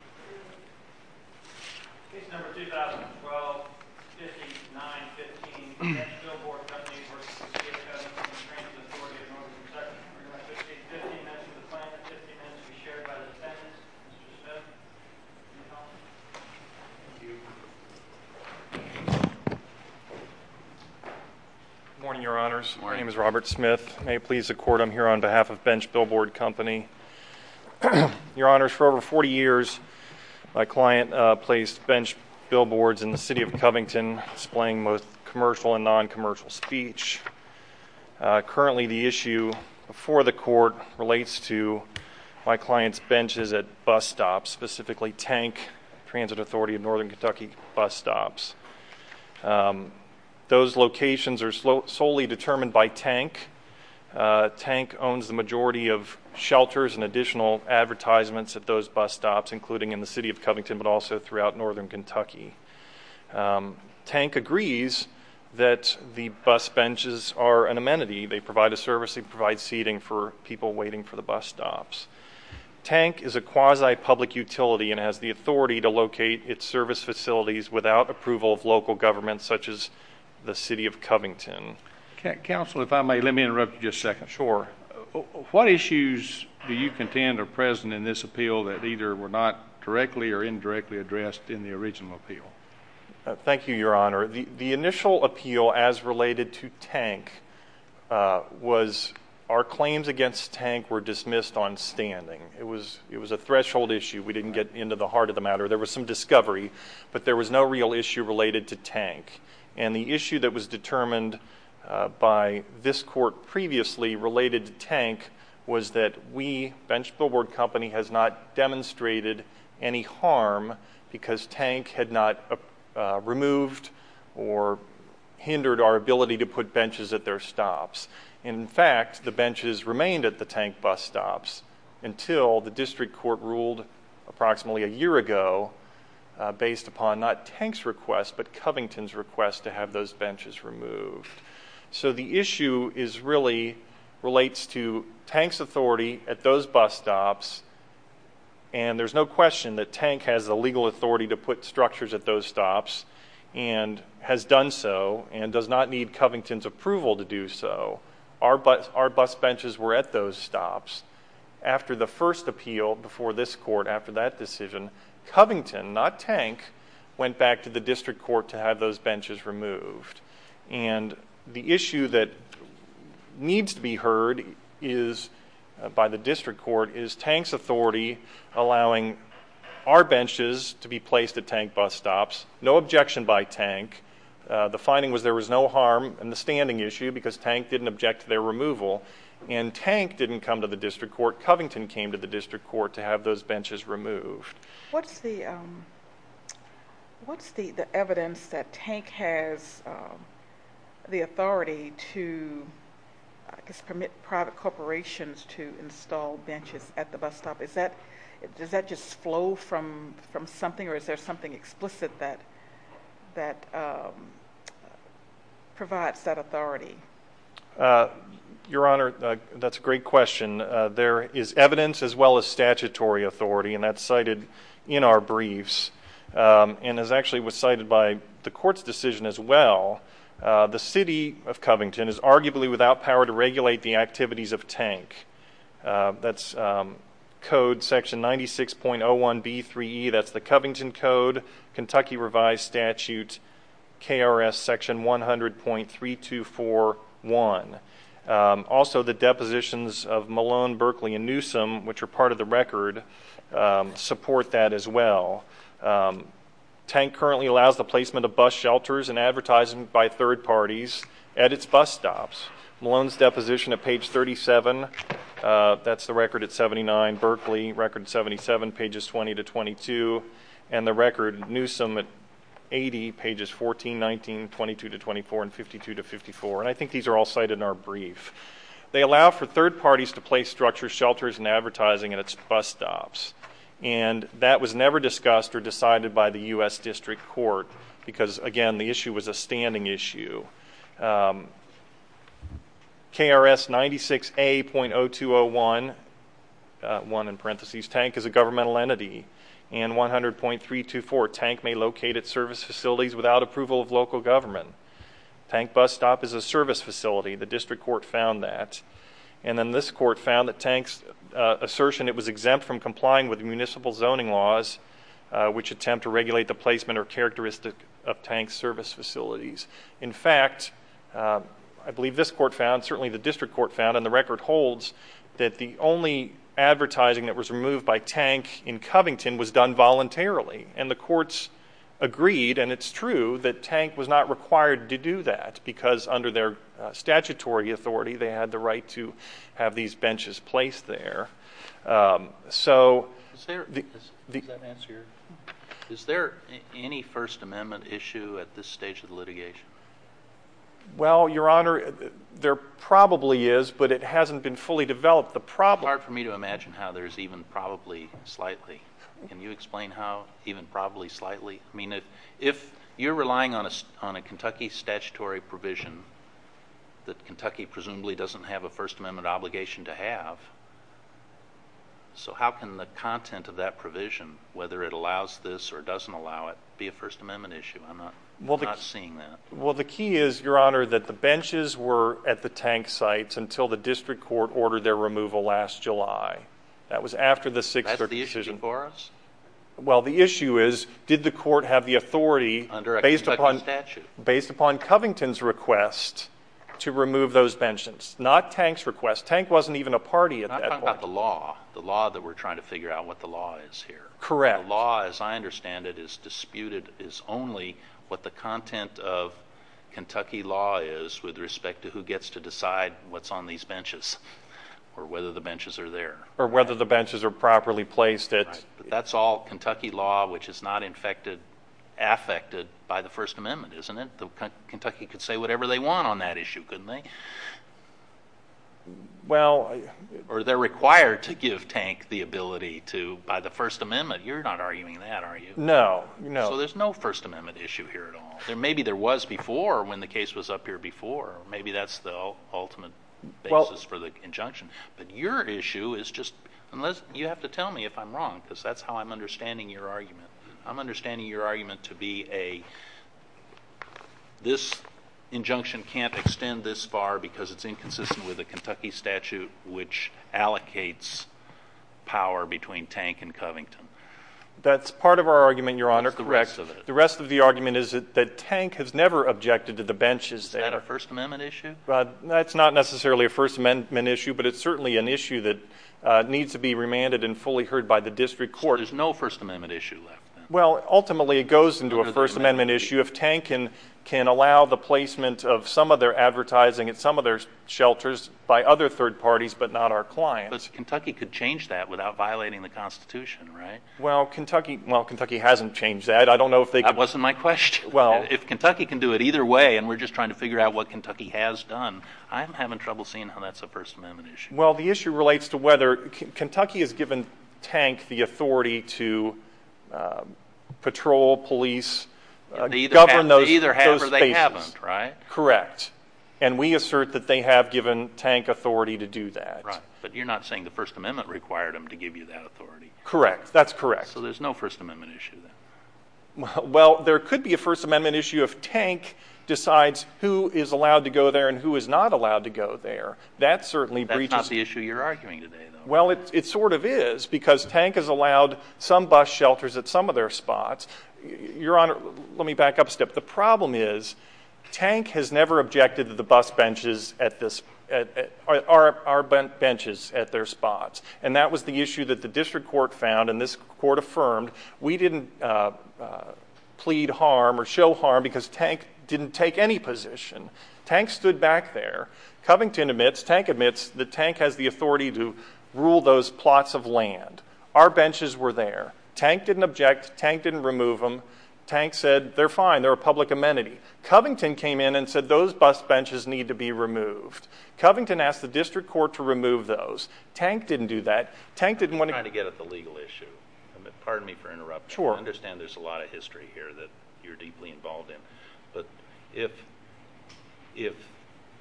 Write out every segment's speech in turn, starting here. Case No. 2012-5915, Bench Billboard Company v. City of Covington Transit Authority of Northern Kentucky. Request to take 15 minutes of the plan and 50 minutes to be shared by the defendants. Mr. Smith, any comments? My client placed bench billboards in the City of Covington displaying both commercial and non-commercial speech. Currently, the issue before the court relates to my client's benches at bus stops, specifically Tank Transit Authority of Northern Kentucky bus stops. Those locations are solely determined by Tank. Tank owns the majority of shelters and additional advertisements at those bus stops, including in the City of Covington, but also throughout Northern Kentucky. Tank agrees that the bus benches are an amenity. They provide a service and provide seating for people waiting for the bus stops. Tank is a quasi-public utility and has the authority to locate its service facilities without approval of local governments, such as the City of Covington. Counsel, if I may, let me interrupt you just a second. Sure. What issues do you contend are present in this appeal that either were not directly or indirectly addressed in the original appeal? Thank you, Your Honor. The initial appeal, as related to Tank, was our claims against Tank were dismissed on standing. It was a threshold issue. We didn't get into the heart of the matter. There was some discovery, but there was no real issue related to Tank. And the issue that was determined by this court previously related to Tank was that we, Bench Billboard Company, has not demonstrated any harm because Tank had not removed or hindered our ability to put benches at their stops. And, in fact, the benches remained at the Tank bus stops until the district court ruled approximately a year ago based upon not Tank's request, but Covington's request to have those benches removed. So the issue really relates to Tank's authority at those bus stops, and there's no question that Tank has the legal authority to put structures at those stops and has done so and does not need Covington's approval to do so. Our bus benches were at those stops. After the first appeal before this court, after that decision, Covington, not Tank, went back to the district court to have those benches removed. And the issue that needs to be heard by the district court is Tank's authority allowing our benches to be placed at Tank bus stops. No objection by Tank. The finding was there was no harm in the standing issue because Tank didn't object to their removal. And Tank didn't come to the district court. Covington came to the district court to have those benches removed. What's the evidence that Tank has the authority to, I guess, permit private corporations to install benches at the bus stop? Does that just flow from something, or is there something explicit that provides that authority? Your Honor, that's a great question. There is evidence as well as statutory authority, and that's cited in our briefs. And it actually was cited by the court's decision as well. The City of Covington is arguably without power to regulate the activities of Tank. That's Code section 96.01B3E, that's the Covington Code, Kentucky Revised Statute, KRS section 100.3241. Also, the depositions of Malone, Berkeley, and Newsom, which are part of the record, support that as well. Tank currently allows the placement of bus shelters and advertising by third parties at its bus stops. Malone's deposition at page 37, that's the record at 79, Berkeley, record 77, pages 20 to 22, and the record Newsom at 80, pages 14, 19, 22 to 24, and 52 to 54. And I think these are all cited in our brief. They allow for third parties to place structures, shelters, and advertising at its bus stops. And that was never discussed or decided by the U.S. District Court because, again, the issue was a standing issue. KRS 96A.0201, 1 in parentheses, Tank is a governmental entity. And 100.324, Tank may locate at service facilities without approval of local government. Tank bus stop is a service facility. The District Court found that. And then this court found that Tank's assertion it was exempt from complying with municipal zoning laws, which attempt to regulate the placement or characteristic of Tank's service facilities. In fact, I believe this court found, certainly the District Court found, and the record holds, that the only advertising that was removed by Tank in Covington was done voluntarily. And the courts agreed, and it's true, that Tank was not required to do that because under their statutory authority they had the right to have these benches placed there. So... Is there any First Amendment issue at this stage of the litigation? Well, Your Honor, there probably is, but it hasn't been fully developed. It's hard for me to imagine how there's even probably slightly. Can you explain how even probably slightly? I mean, if you're relying on a Kentucky statutory provision that Kentucky presumably doesn't have a First Amendment obligation to have, so how can the content of that provision, whether it allows this or doesn't allow it, be a First Amendment issue? I'm not seeing that. Well, the key is, Your Honor, that the benches were at the Tank sites until the District Court ordered their removal last July. That was after the Sixth Circuit decision. That's the issue? The issue is, did the court have the authority, based upon Covington's request, to remove those benches? Not Tank's request. Tank wasn't even a party at that point. I'm talking about the law, the law that we're trying to figure out what the law is here. Correct. The law, as I understand it, is disputed as only what the content of Kentucky law is with respect to who gets to decide what's on these benches or whether the benches are there. Or whether the benches are properly placed at... That's all Kentucky law, which is not affected by the First Amendment, isn't it? Kentucky could say whatever they want on that issue, couldn't they? Well... Or they're required to give Tank the ability to, by the First Amendment. You're not arguing that, are you? No. So there's no First Amendment issue here at all. Maybe there was before, when the case was up here before. Maybe that's the ultimate basis for the injunction. But your issue is just... You have to tell me if I'm wrong, because that's how I'm understanding your argument. I'm understanding your argument to be a... This injunction can't extend this far because it's inconsistent with the Kentucky statute, which allocates power between Tank and Covington. That's part of our argument, Your Honor. What's the rest of it? The rest of the argument is that Tank has never objected to the benches that... Is that a First Amendment issue? That's not necessarily a First Amendment issue, but it's certainly an issue that needs to be remanded and fully heard by the district court. So there's no First Amendment issue left, then? Well, ultimately it goes into a First Amendment issue if Tank can allow the placement of some of their advertising at some of their shelters by other third parties but not our clients. But Kentucky could change that without violating the Constitution, right? Well, Kentucky hasn't changed that. That wasn't my question. If Kentucky can do it either way and we're just trying to figure out what Kentucky has done, I'm having trouble seeing how that's a First Amendment issue. Well, the issue relates to whether Kentucky has given Tank the authority to patrol, police, govern those spaces. Either have or they haven't, right? Correct. And we assert that they have given Tank authority to do that. But you're not saying the First Amendment required them to give you that authority? Correct. That's correct. So there's no First Amendment issue, then? Well, there could be a First Amendment issue if Tank decides who is allowed to go there and who is not allowed to go there. That's not the issue you're arguing today, though. Well, it sort of is because Tank has allowed some bus shelters at some of their spots. Your Honor, let me back up a step. The problem is Tank has never objected to our benches at their spots. And that was the issue that the district court found and this court affirmed. We didn't plead harm or show harm because Tank didn't take any position. Tank stood back there. Covington admits, Tank admits that Tank has the authority to rule those plots of land. Our benches were there. Tank didn't object. Tank didn't remove them. Tank said they're fine, they're a public amenity. Covington came in and said those bus benches need to be removed. Covington asked the district court to remove those. Tank didn't do that. I'm trying to get at the legal issue. Pardon me for interrupting. I understand there's a lot of history here that you're deeply involved in. But if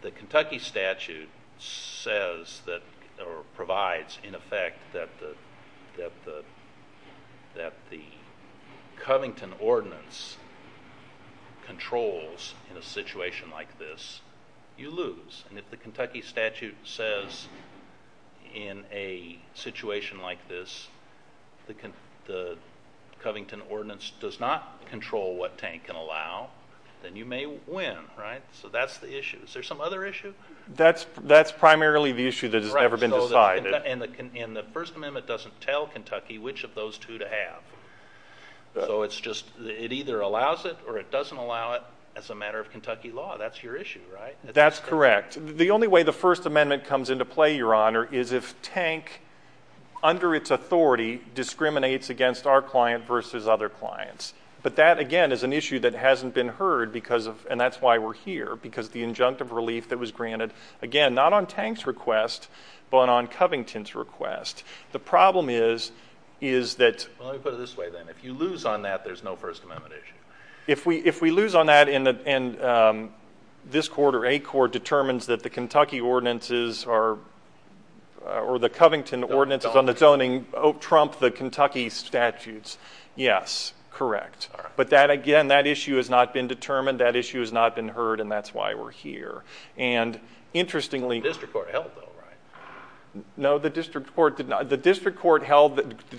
the Kentucky statute says or provides, in effect, that the Covington ordinance controls in a situation like this, you lose. And if the Kentucky statute says in a situation like this, the Covington ordinance does not control what Tank can allow, then you may win. So that's the issue. Is there some other issue? That's primarily the issue that has never been decided. And the First Amendment doesn't tell Kentucky which of those two to have. So it either allows it or it doesn't allow it as a matter of Kentucky law. That's your issue, right? That's correct. The only way the First Amendment comes into play, Your Honor, is if Tank, under its authority, discriminates against our client versus other clients. But that, again, is an issue that hasn't been heard, and that's why we're here, because the injunctive relief that was granted, again, not on Tank's request, but on Covington's request. The problem is that – Well, let me put it this way, then. If you lose on that, there's no First Amendment issue. If we lose on that and this court or a court determines that the Kentucky ordinances or the Covington ordinances on its own trump the Kentucky statutes, yes, correct. But that, again, that issue has not been determined, that issue has not been heard, and that's why we're here. And interestingly – The district court held, though, right? No, the district court did not. The district court granted –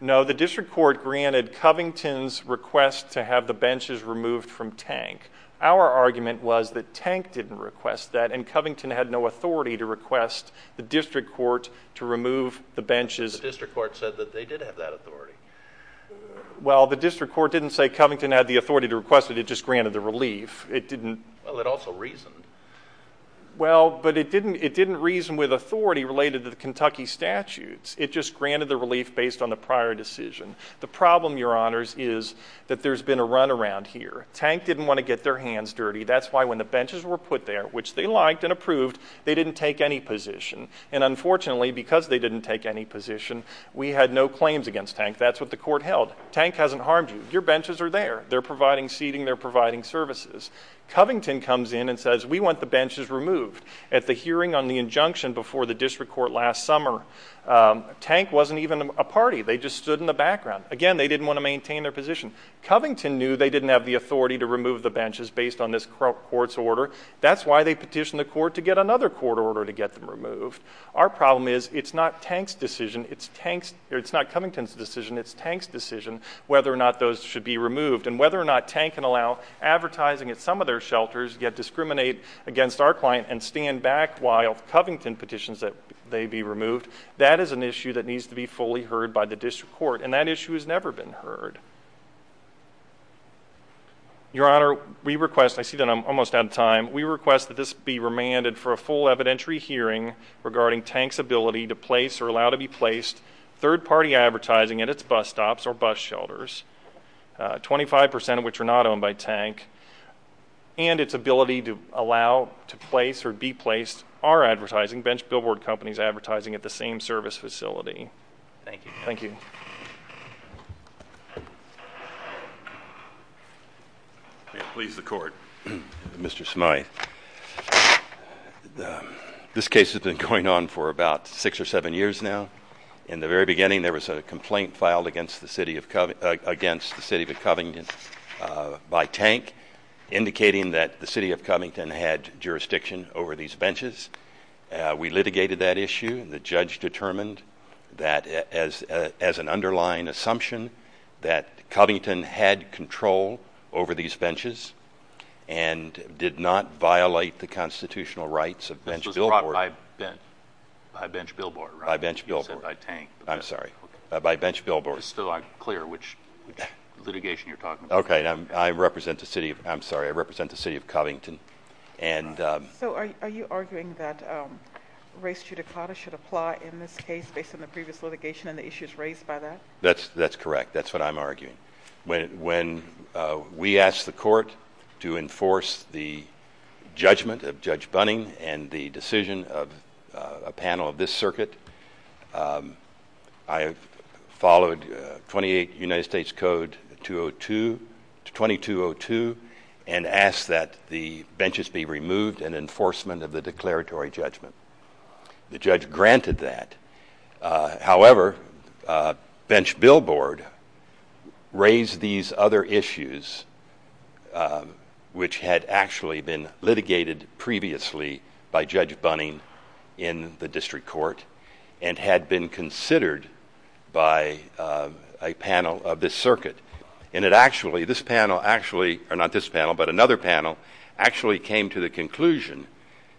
No, the district court granted Covington's request to have the benches removed from Tank. Our argument was that Tank didn't request that and Covington had no authority to request the district court to remove the benches. The district court said that they did have that authority. Well, the district court didn't say Covington had the authority to request it. It just granted the relief. It didn't – Well, it also reasoned. Well, but it didn't reason with authority related to the Kentucky statutes. It just granted the relief based on the prior decision. The problem, Your Honors, is that there's been a runaround here. Tank didn't want to get their hands dirty. That's why when the benches were put there, which they liked and approved, they didn't take any position. And unfortunately, because they didn't take any position, we had no claims against Tank. That's what the court held. Tank hasn't harmed you. Your benches are there. They're providing seating. They're providing services. Covington comes in and says, we want the benches removed. At the hearing on the injunction before the district court last summer, Tank wasn't even a party. They just stood in the background. Again, they didn't want to maintain their position. Covington knew they didn't have the authority to remove the benches based on this court's order. That's why they petitioned the court to get another court order to get them removed. Our problem is, it's not Tank's decision. It's not Covington's decision. It's Tank's decision whether or not those should be removed, and whether or not Tank can allow advertising at some of their shelters yet discriminate against our client and stand back while Covington petitions that they be removed. That is an issue that needs to be fully heard by the district court, and that issue has never been heard. Your Honor, we request – I see that I'm almost out of time – we request that this be remanded for a full evidentiary hearing regarding Tank's ability to place or allow to be placed third-party advertising at its bus stops or bus shelters, 25% of which are not owned by Tank, and its ability to allow to place or be placed our advertising, Bench Billboard Company's advertising, at the same service facility. Thank you. Thank you. May it please the Court. Mr. Smyth, this case has been going on for about six or seven years now. In the very beginning, there was a complaint filed against the City of Covington by Tank indicating that the City of Covington had jurisdiction over these benches. We litigated that issue, and the judge determined that as an underlying assumption that Covington had control over these benches and did not violate the constitutional rights of Bench Billboard. This was brought by Bench Billboard, right? By Bench Billboard. You said by Tank. I'm sorry, by Bench Billboard. It's still unclear which litigation you're talking about. Okay. I represent the City of Covington. So are you arguing that race judicata should apply in this case based on the previous litigation and the issues raised by that? That's correct. That's what I'm arguing. When we asked the Court to enforce the judgment of Judge Bunning and the decision of a panel of this circuit, I followed 28 United States Code 2202 and asked that the benches be removed in enforcement of the declaratory judgment. The judge granted that. However, Bench Billboard raised these other issues, which had actually been litigated previously by Judge Bunning in the district court. And had been considered by a panel of this circuit. And it actually, this panel actually, or not this panel, but another panel, actually came to the conclusion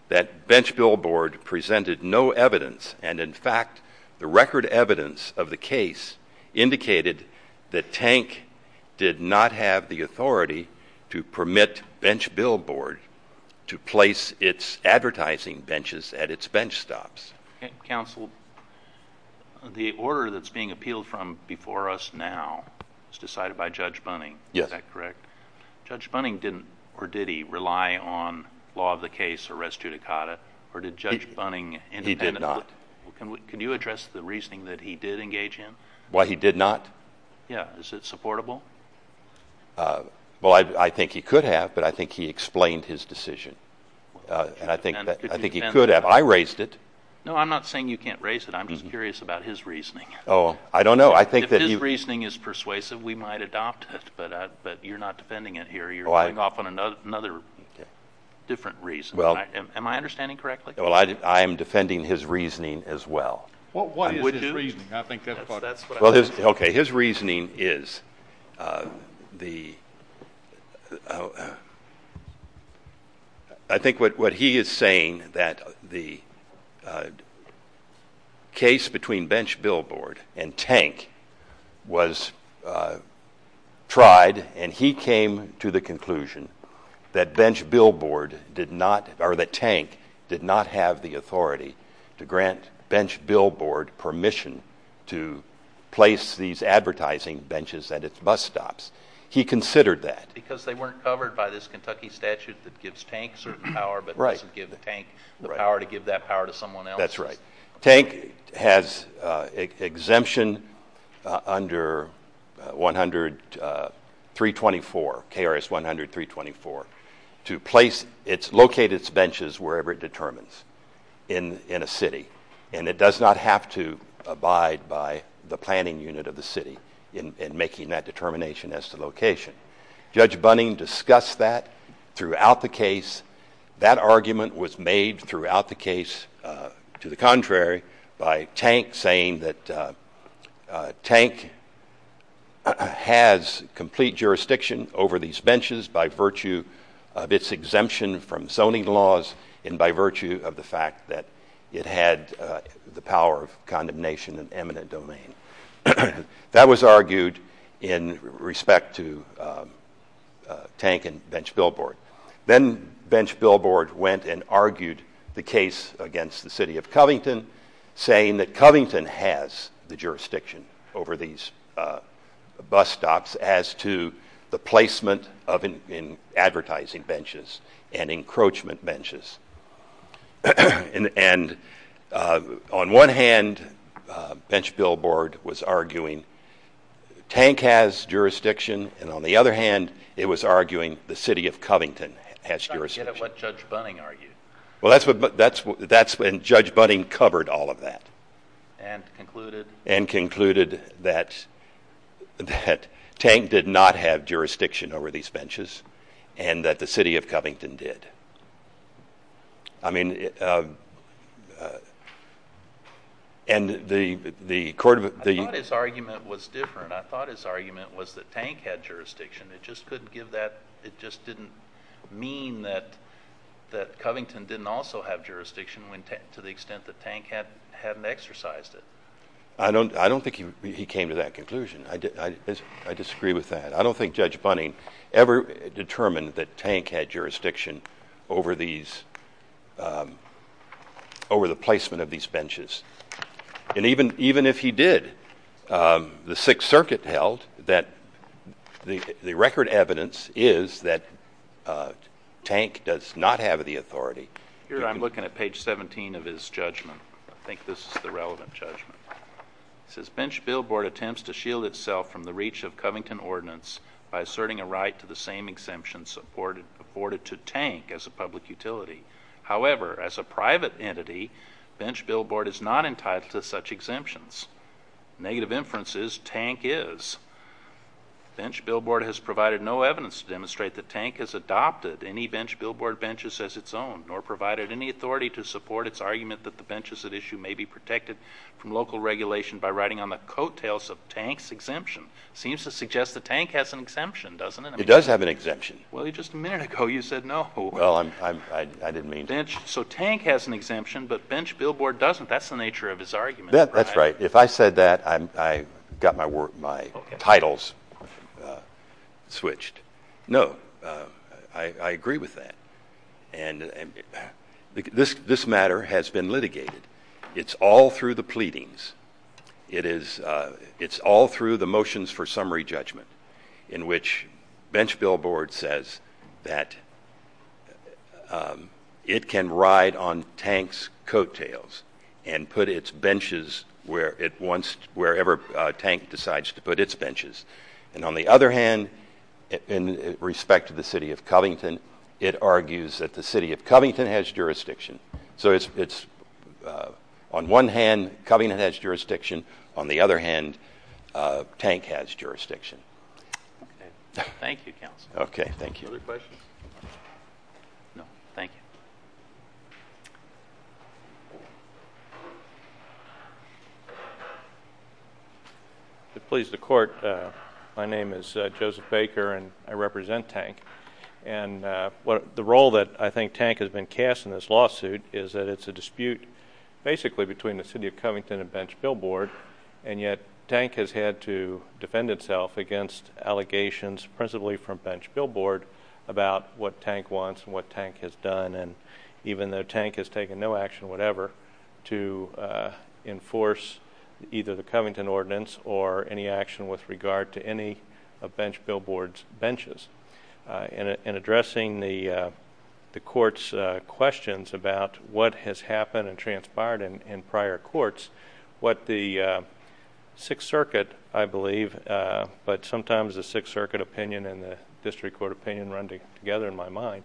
that Bench Billboard presented no evidence. And, in fact, the record evidence of the case indicated that Tank did not have the authority to permit Bench Billboard to place its advertising benches at its bench stops. Counsel, the order that's being appealed from before us now is decided by Judge Bunning. Yes. Is that correct? Judge Bunning didn't, or did he, rely on law of the case or res judicata, or did Judge Bunning independently? He did not. Can you address the reasoning that he did engage in? Why he did not? Yeah. Is it supportable? Well, I think he could have, but I think he explained his decision. And I think he could have. I raised it. No, I'm not saying you can't raise it. I'm just curious about his reasoning. Oh, I don't know. If his reasoning is persuasive, we might adopt it. But you're not defending it here. You're going off on another different reason. Am I understanding correctly? Well, I am defending his reasoning as well. What is his reasoning? I think that's what I'm saying. Okay. His reasoning is the – I think what he is saying, that the case between Bench Billboard and Tank was tried, and he came to the conclusion that Bench Billboard did not – or that Tank did not have the authority to grant Bench Billboard permission to place these advertising benches at its bus stops. He considered that. Because they weren't covered by this Kentucky statute that gives Tank certain power but doesn't give Tank the power to give that power to someone else. That's right. Tank has exemption under 100.324, KRS 100.324, to locate its benches wherever it determines in a city. And it does not have to abide by the planning unit of the city in making that determination as to location. Judge Bunning discussed that throughout the case. That argument was made throughout the case, to the contrary, by Tank saying that Tank has complete jurisdiction over these benches by virtue of its exemption from zoning laws and by virtue of the fact that it had the power of condemnation in eminent domain. That was argued in respect to Tank and Bench Billboard. Then Bench Billboard went and argued the case against the city of Covington, saying that Covington has the jurisdiction over these bus stops as to the placement of advertising benches and encroachment benches. And on one hand, Bench Billboard was arguing Tank has jurisdiction, and on the other hand, it was arguing the city of Covington has jurisdiction. I don't get it what Judge Bunning argued. Well, that's when Judge Bunning covered all of that. And concluded? And concluded that Tank did not have jurisdiction over these benches and that the city of Covington did. I mean, and the court of the- I thought his argument was different. I thought his argument was that Tank had jurisdiction. It just couldn't give that. It just didn't mean that Covington didn't also have jurisdiction to the extent that Tank hadn't exercised it. I don't think he came to that conclusion. I disagree with that. I don't think Judge Bunning ever determined that Tank had jurisdiction over the placement of these benches. And even if he did, the Sixth Circuit held that the record evidence is that Tank does not have the authority. Here I'm looking at page 17 of his judgment. I think this is the relevant judgment. It says, Bench billboard attempts to shield itself from the reach of Covington ordinance by asserting a right to the same exemptions afforded to Tank as a public utility. However, as a private entity, bench billboard is not entitled to such exemptions. Negative inference is Tank is. Bench billboard has provided no evidence to demonstrate that Tank has adopted any bench billboard benches as its own, nor provided any authority to support its argument that the benches at issue may be protected from local regulation by writing on the coattails of Tank's exemption. Seems to suggest that Tank has an exemption, doesn't it? It does have an exemption. Well, just a minute ago you said no. Well, I didn't mean to. So Tank has an exemption, but bench billboard doesn't. That's the nature of his argument. That's right. If I said that, I got my titles switched. No, I agree with that. And this matter has been litigated. It's all through the pleadings. It's all through the motions for summary judgment, in which bench billboard says that it can ride on Tank's coattails and put its benches wherever Tank decides to put its benches. And on the other hand, in respect to the city of Covington, it argues that the city of Covington has jurisdiction. So on one hand, Covington has jurisdiction. On the other hand, Tank has jurisdiction. Okay. Thank you, counsel. Okay, thank you. Other questions? No. Thank you. If it pleases the court, my name is Joseph Baker, and I represent Tank. And the role that I think Tank has been cast in this lawsuit is that it's a dispute basically between the city of Covington and bench billboard, and yet Tank has had to defend itself against allegations, principally from bench billboard, about what Tank wants and what Tank has done. And even though Tank has taken no action, whatever, to enforce either the Covington ordinance or any action with regard to any of bench billboard's benches. In addressing the court's questions about what has happened and transpired in prior courts, what the Sixth Circuit, I believe, but sometimes the Sixth Circuit opinion and the district court opinion run together in my mind.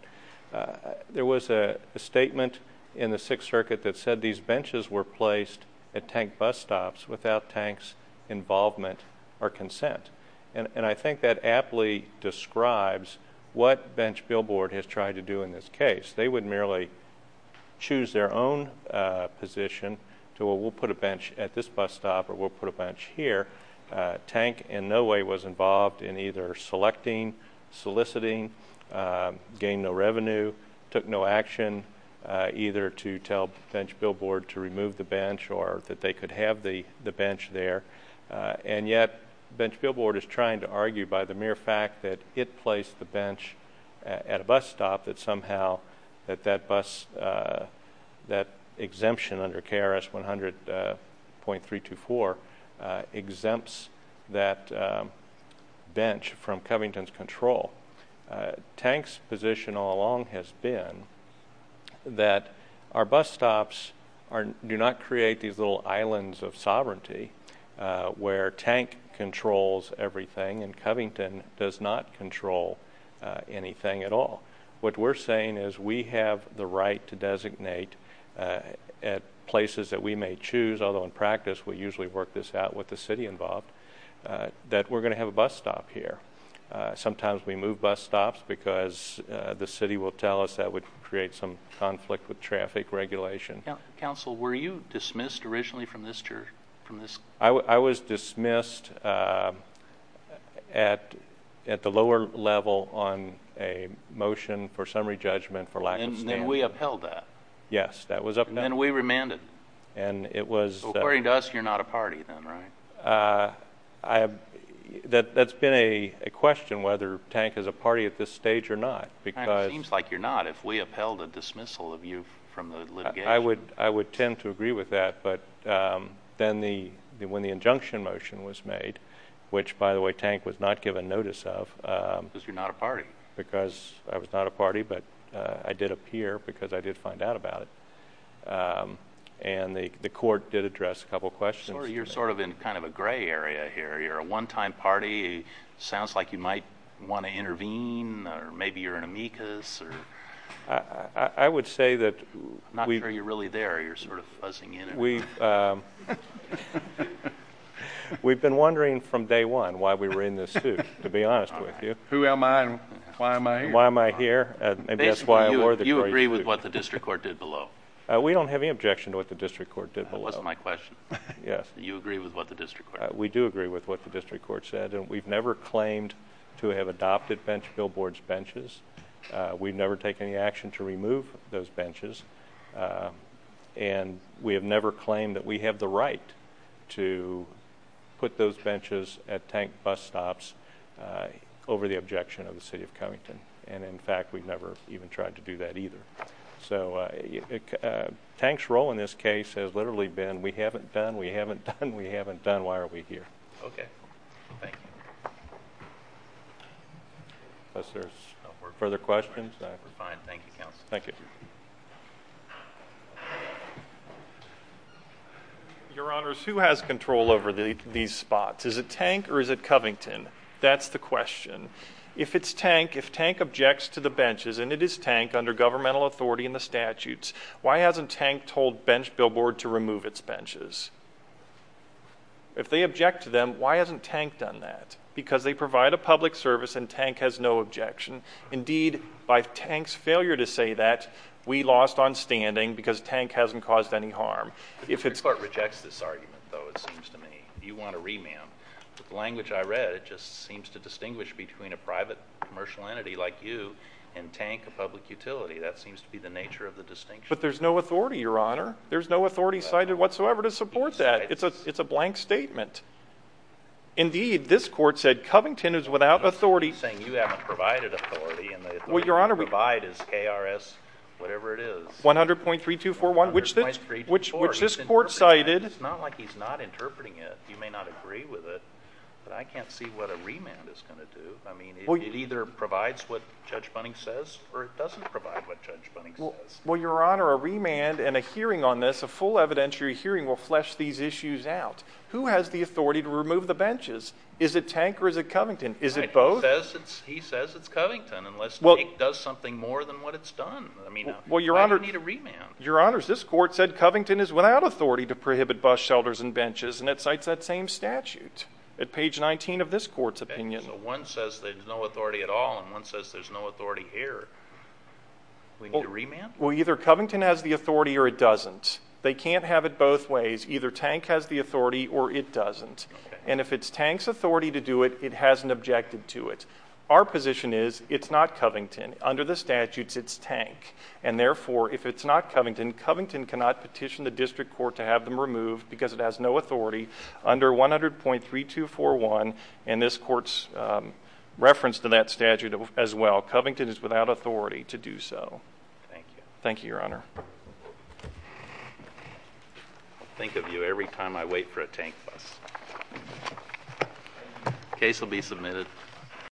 There was a statement in the Sixth Circuit that said these benches were placed at Tank bus stops without Tank's involvement or consent. And I think that aptly describes what bench billboard has tried to do in this case. They would merely choose their own position to, well, we'll put a bench at this bus stop or we'll put a bench here. Tank in no way was involved in either selecting, soliciting, gain no revenue, took no action either to tell bench billboard to remove the bench or that they could have the bench there. And yet bench billboard is trying to argue by the mere fact that it placed the bench at a bus stop that somehow that exemption under KRS 100.324 exempts that bench from Covington's control. Tank's position all along has been that our bus stops do not create these little islands of sovereignty where Tank controls everything and Covington does not control anything at all. What we're saying is we have the right to designate at places that we may choose, although in practice we usually work this out with the city involved, that we're going to have a bus stop here. Sometimes we move bus stops because the city will tell us that would create some conflict with traffic regulation. Counsel, were you dismissed originally from this? I was dismissed at the lower level on a motion for summary judgment for lack of standing. And then we upheld that. Yes, that was upheld. And then we remanded. According to us, you're not a party then, right? That's been a question whether Tank is a party at this stage or not. It seems like you're not if we upheld a dismissal of you from the litigation. I would tend to agree with that. But then when the injunction motion was made, which, by the way, Tank was not given notice of. Because you're not a party. Because I was not a party, but I did appear because I did find out about it. And the court did address a couple questions. You're sort of in kind of a gray area here. You're a one-time party. It sounds like you might want to intervene or maybe you're an amicus. I would say that... I'm not sure you're really there. You're sort of fuzzing in. We've been wondering from day one why we were in this suit, to be honest with you. Who am I and why am I here? Why am I here and that's why I wore the gray suit. You agree with what the district court did below. We don't have any objection to what the district court did below. That wasn't my question. Yes. You agree with what the district court did. We do agree with what the district court said. We've never claimed to have adopted billboards benches. We've never taken any action to remove those benches. And we have never claimed that we have the right to put those benches at tank bus stops over the objection of the city of Covington. And, in fact, we've never even tried to do that either. So tank's role in this case has literally been we haven't done, we haven't done, we haven't done, why are we here? Okay. Thank you. Unless there's further questions. We're fine. Thank you, counsel. Thank you. Your Honors, who has control over these spots? Is it tank or is it Covington? That's the question. If it's tank, if tank objects to the benches and it is tank under governmental authority and the statutes, why hasn't tank told bench billboard to remove its benches? If they object to them, why hasn't tank done that? Because they provide a public service and tank has no objection. Indeed, by tank's failure to say that, we lost on standing because tank hasn't caused any harm. The district court rejects this argument, though, it seems to me. You want a remand. The language I read, it just seems to distinguish between a private commercial entity like you and tank, a public utility. That seems to be the nature of the distinction. But there's no authority, Your Honor. There's no authority cited whatsoever to support that. It's a blank statement. Indeed, this court said Covington is without authority. You're saying you haven't provided authority and the authority to provide is KRS, whatever it is. 100.3241, which this court cited. It's not like he's not interpreting it. You may not agree with it, but I can't see what a remand is going to do. I mean, it either provides what Judge Bunning says or it doesn't provide what Judge Bunning says. Well, Your Honor, a remand and a hearing on this, a full evidentiary hearing will flesh these issues out. Who has the authority to remove the benches? Is it tank or is it Covington? Is it both? He says it's Covington unless tank does something more than what it's done. I mean, why do you need a remand? Your Honor, this court said Covington is without authority to prohibit bus shelters and benches, and it cites that same statute at page 19 of this court's opinion. So one says there's no authority at all and one says there's no authority here. Well, either Covington has the authority or it doesn't. They can't have it both ways. Either tank has the authority or it doesn't, and if it's tank's authority to do it, it hasn't objected to it. Our position is it's not Covington. Under the statutes, it's tank, and therefore, if it's not Covington, Covington cannot petition the district court to have them removed because it has no authority under 100.3241, and this court's reference to that statute as well. Covington is without authority to do so. Thank you. Thank you, Your Honor. I'll think of you every time I wait for a tank bus. Case will be submitted.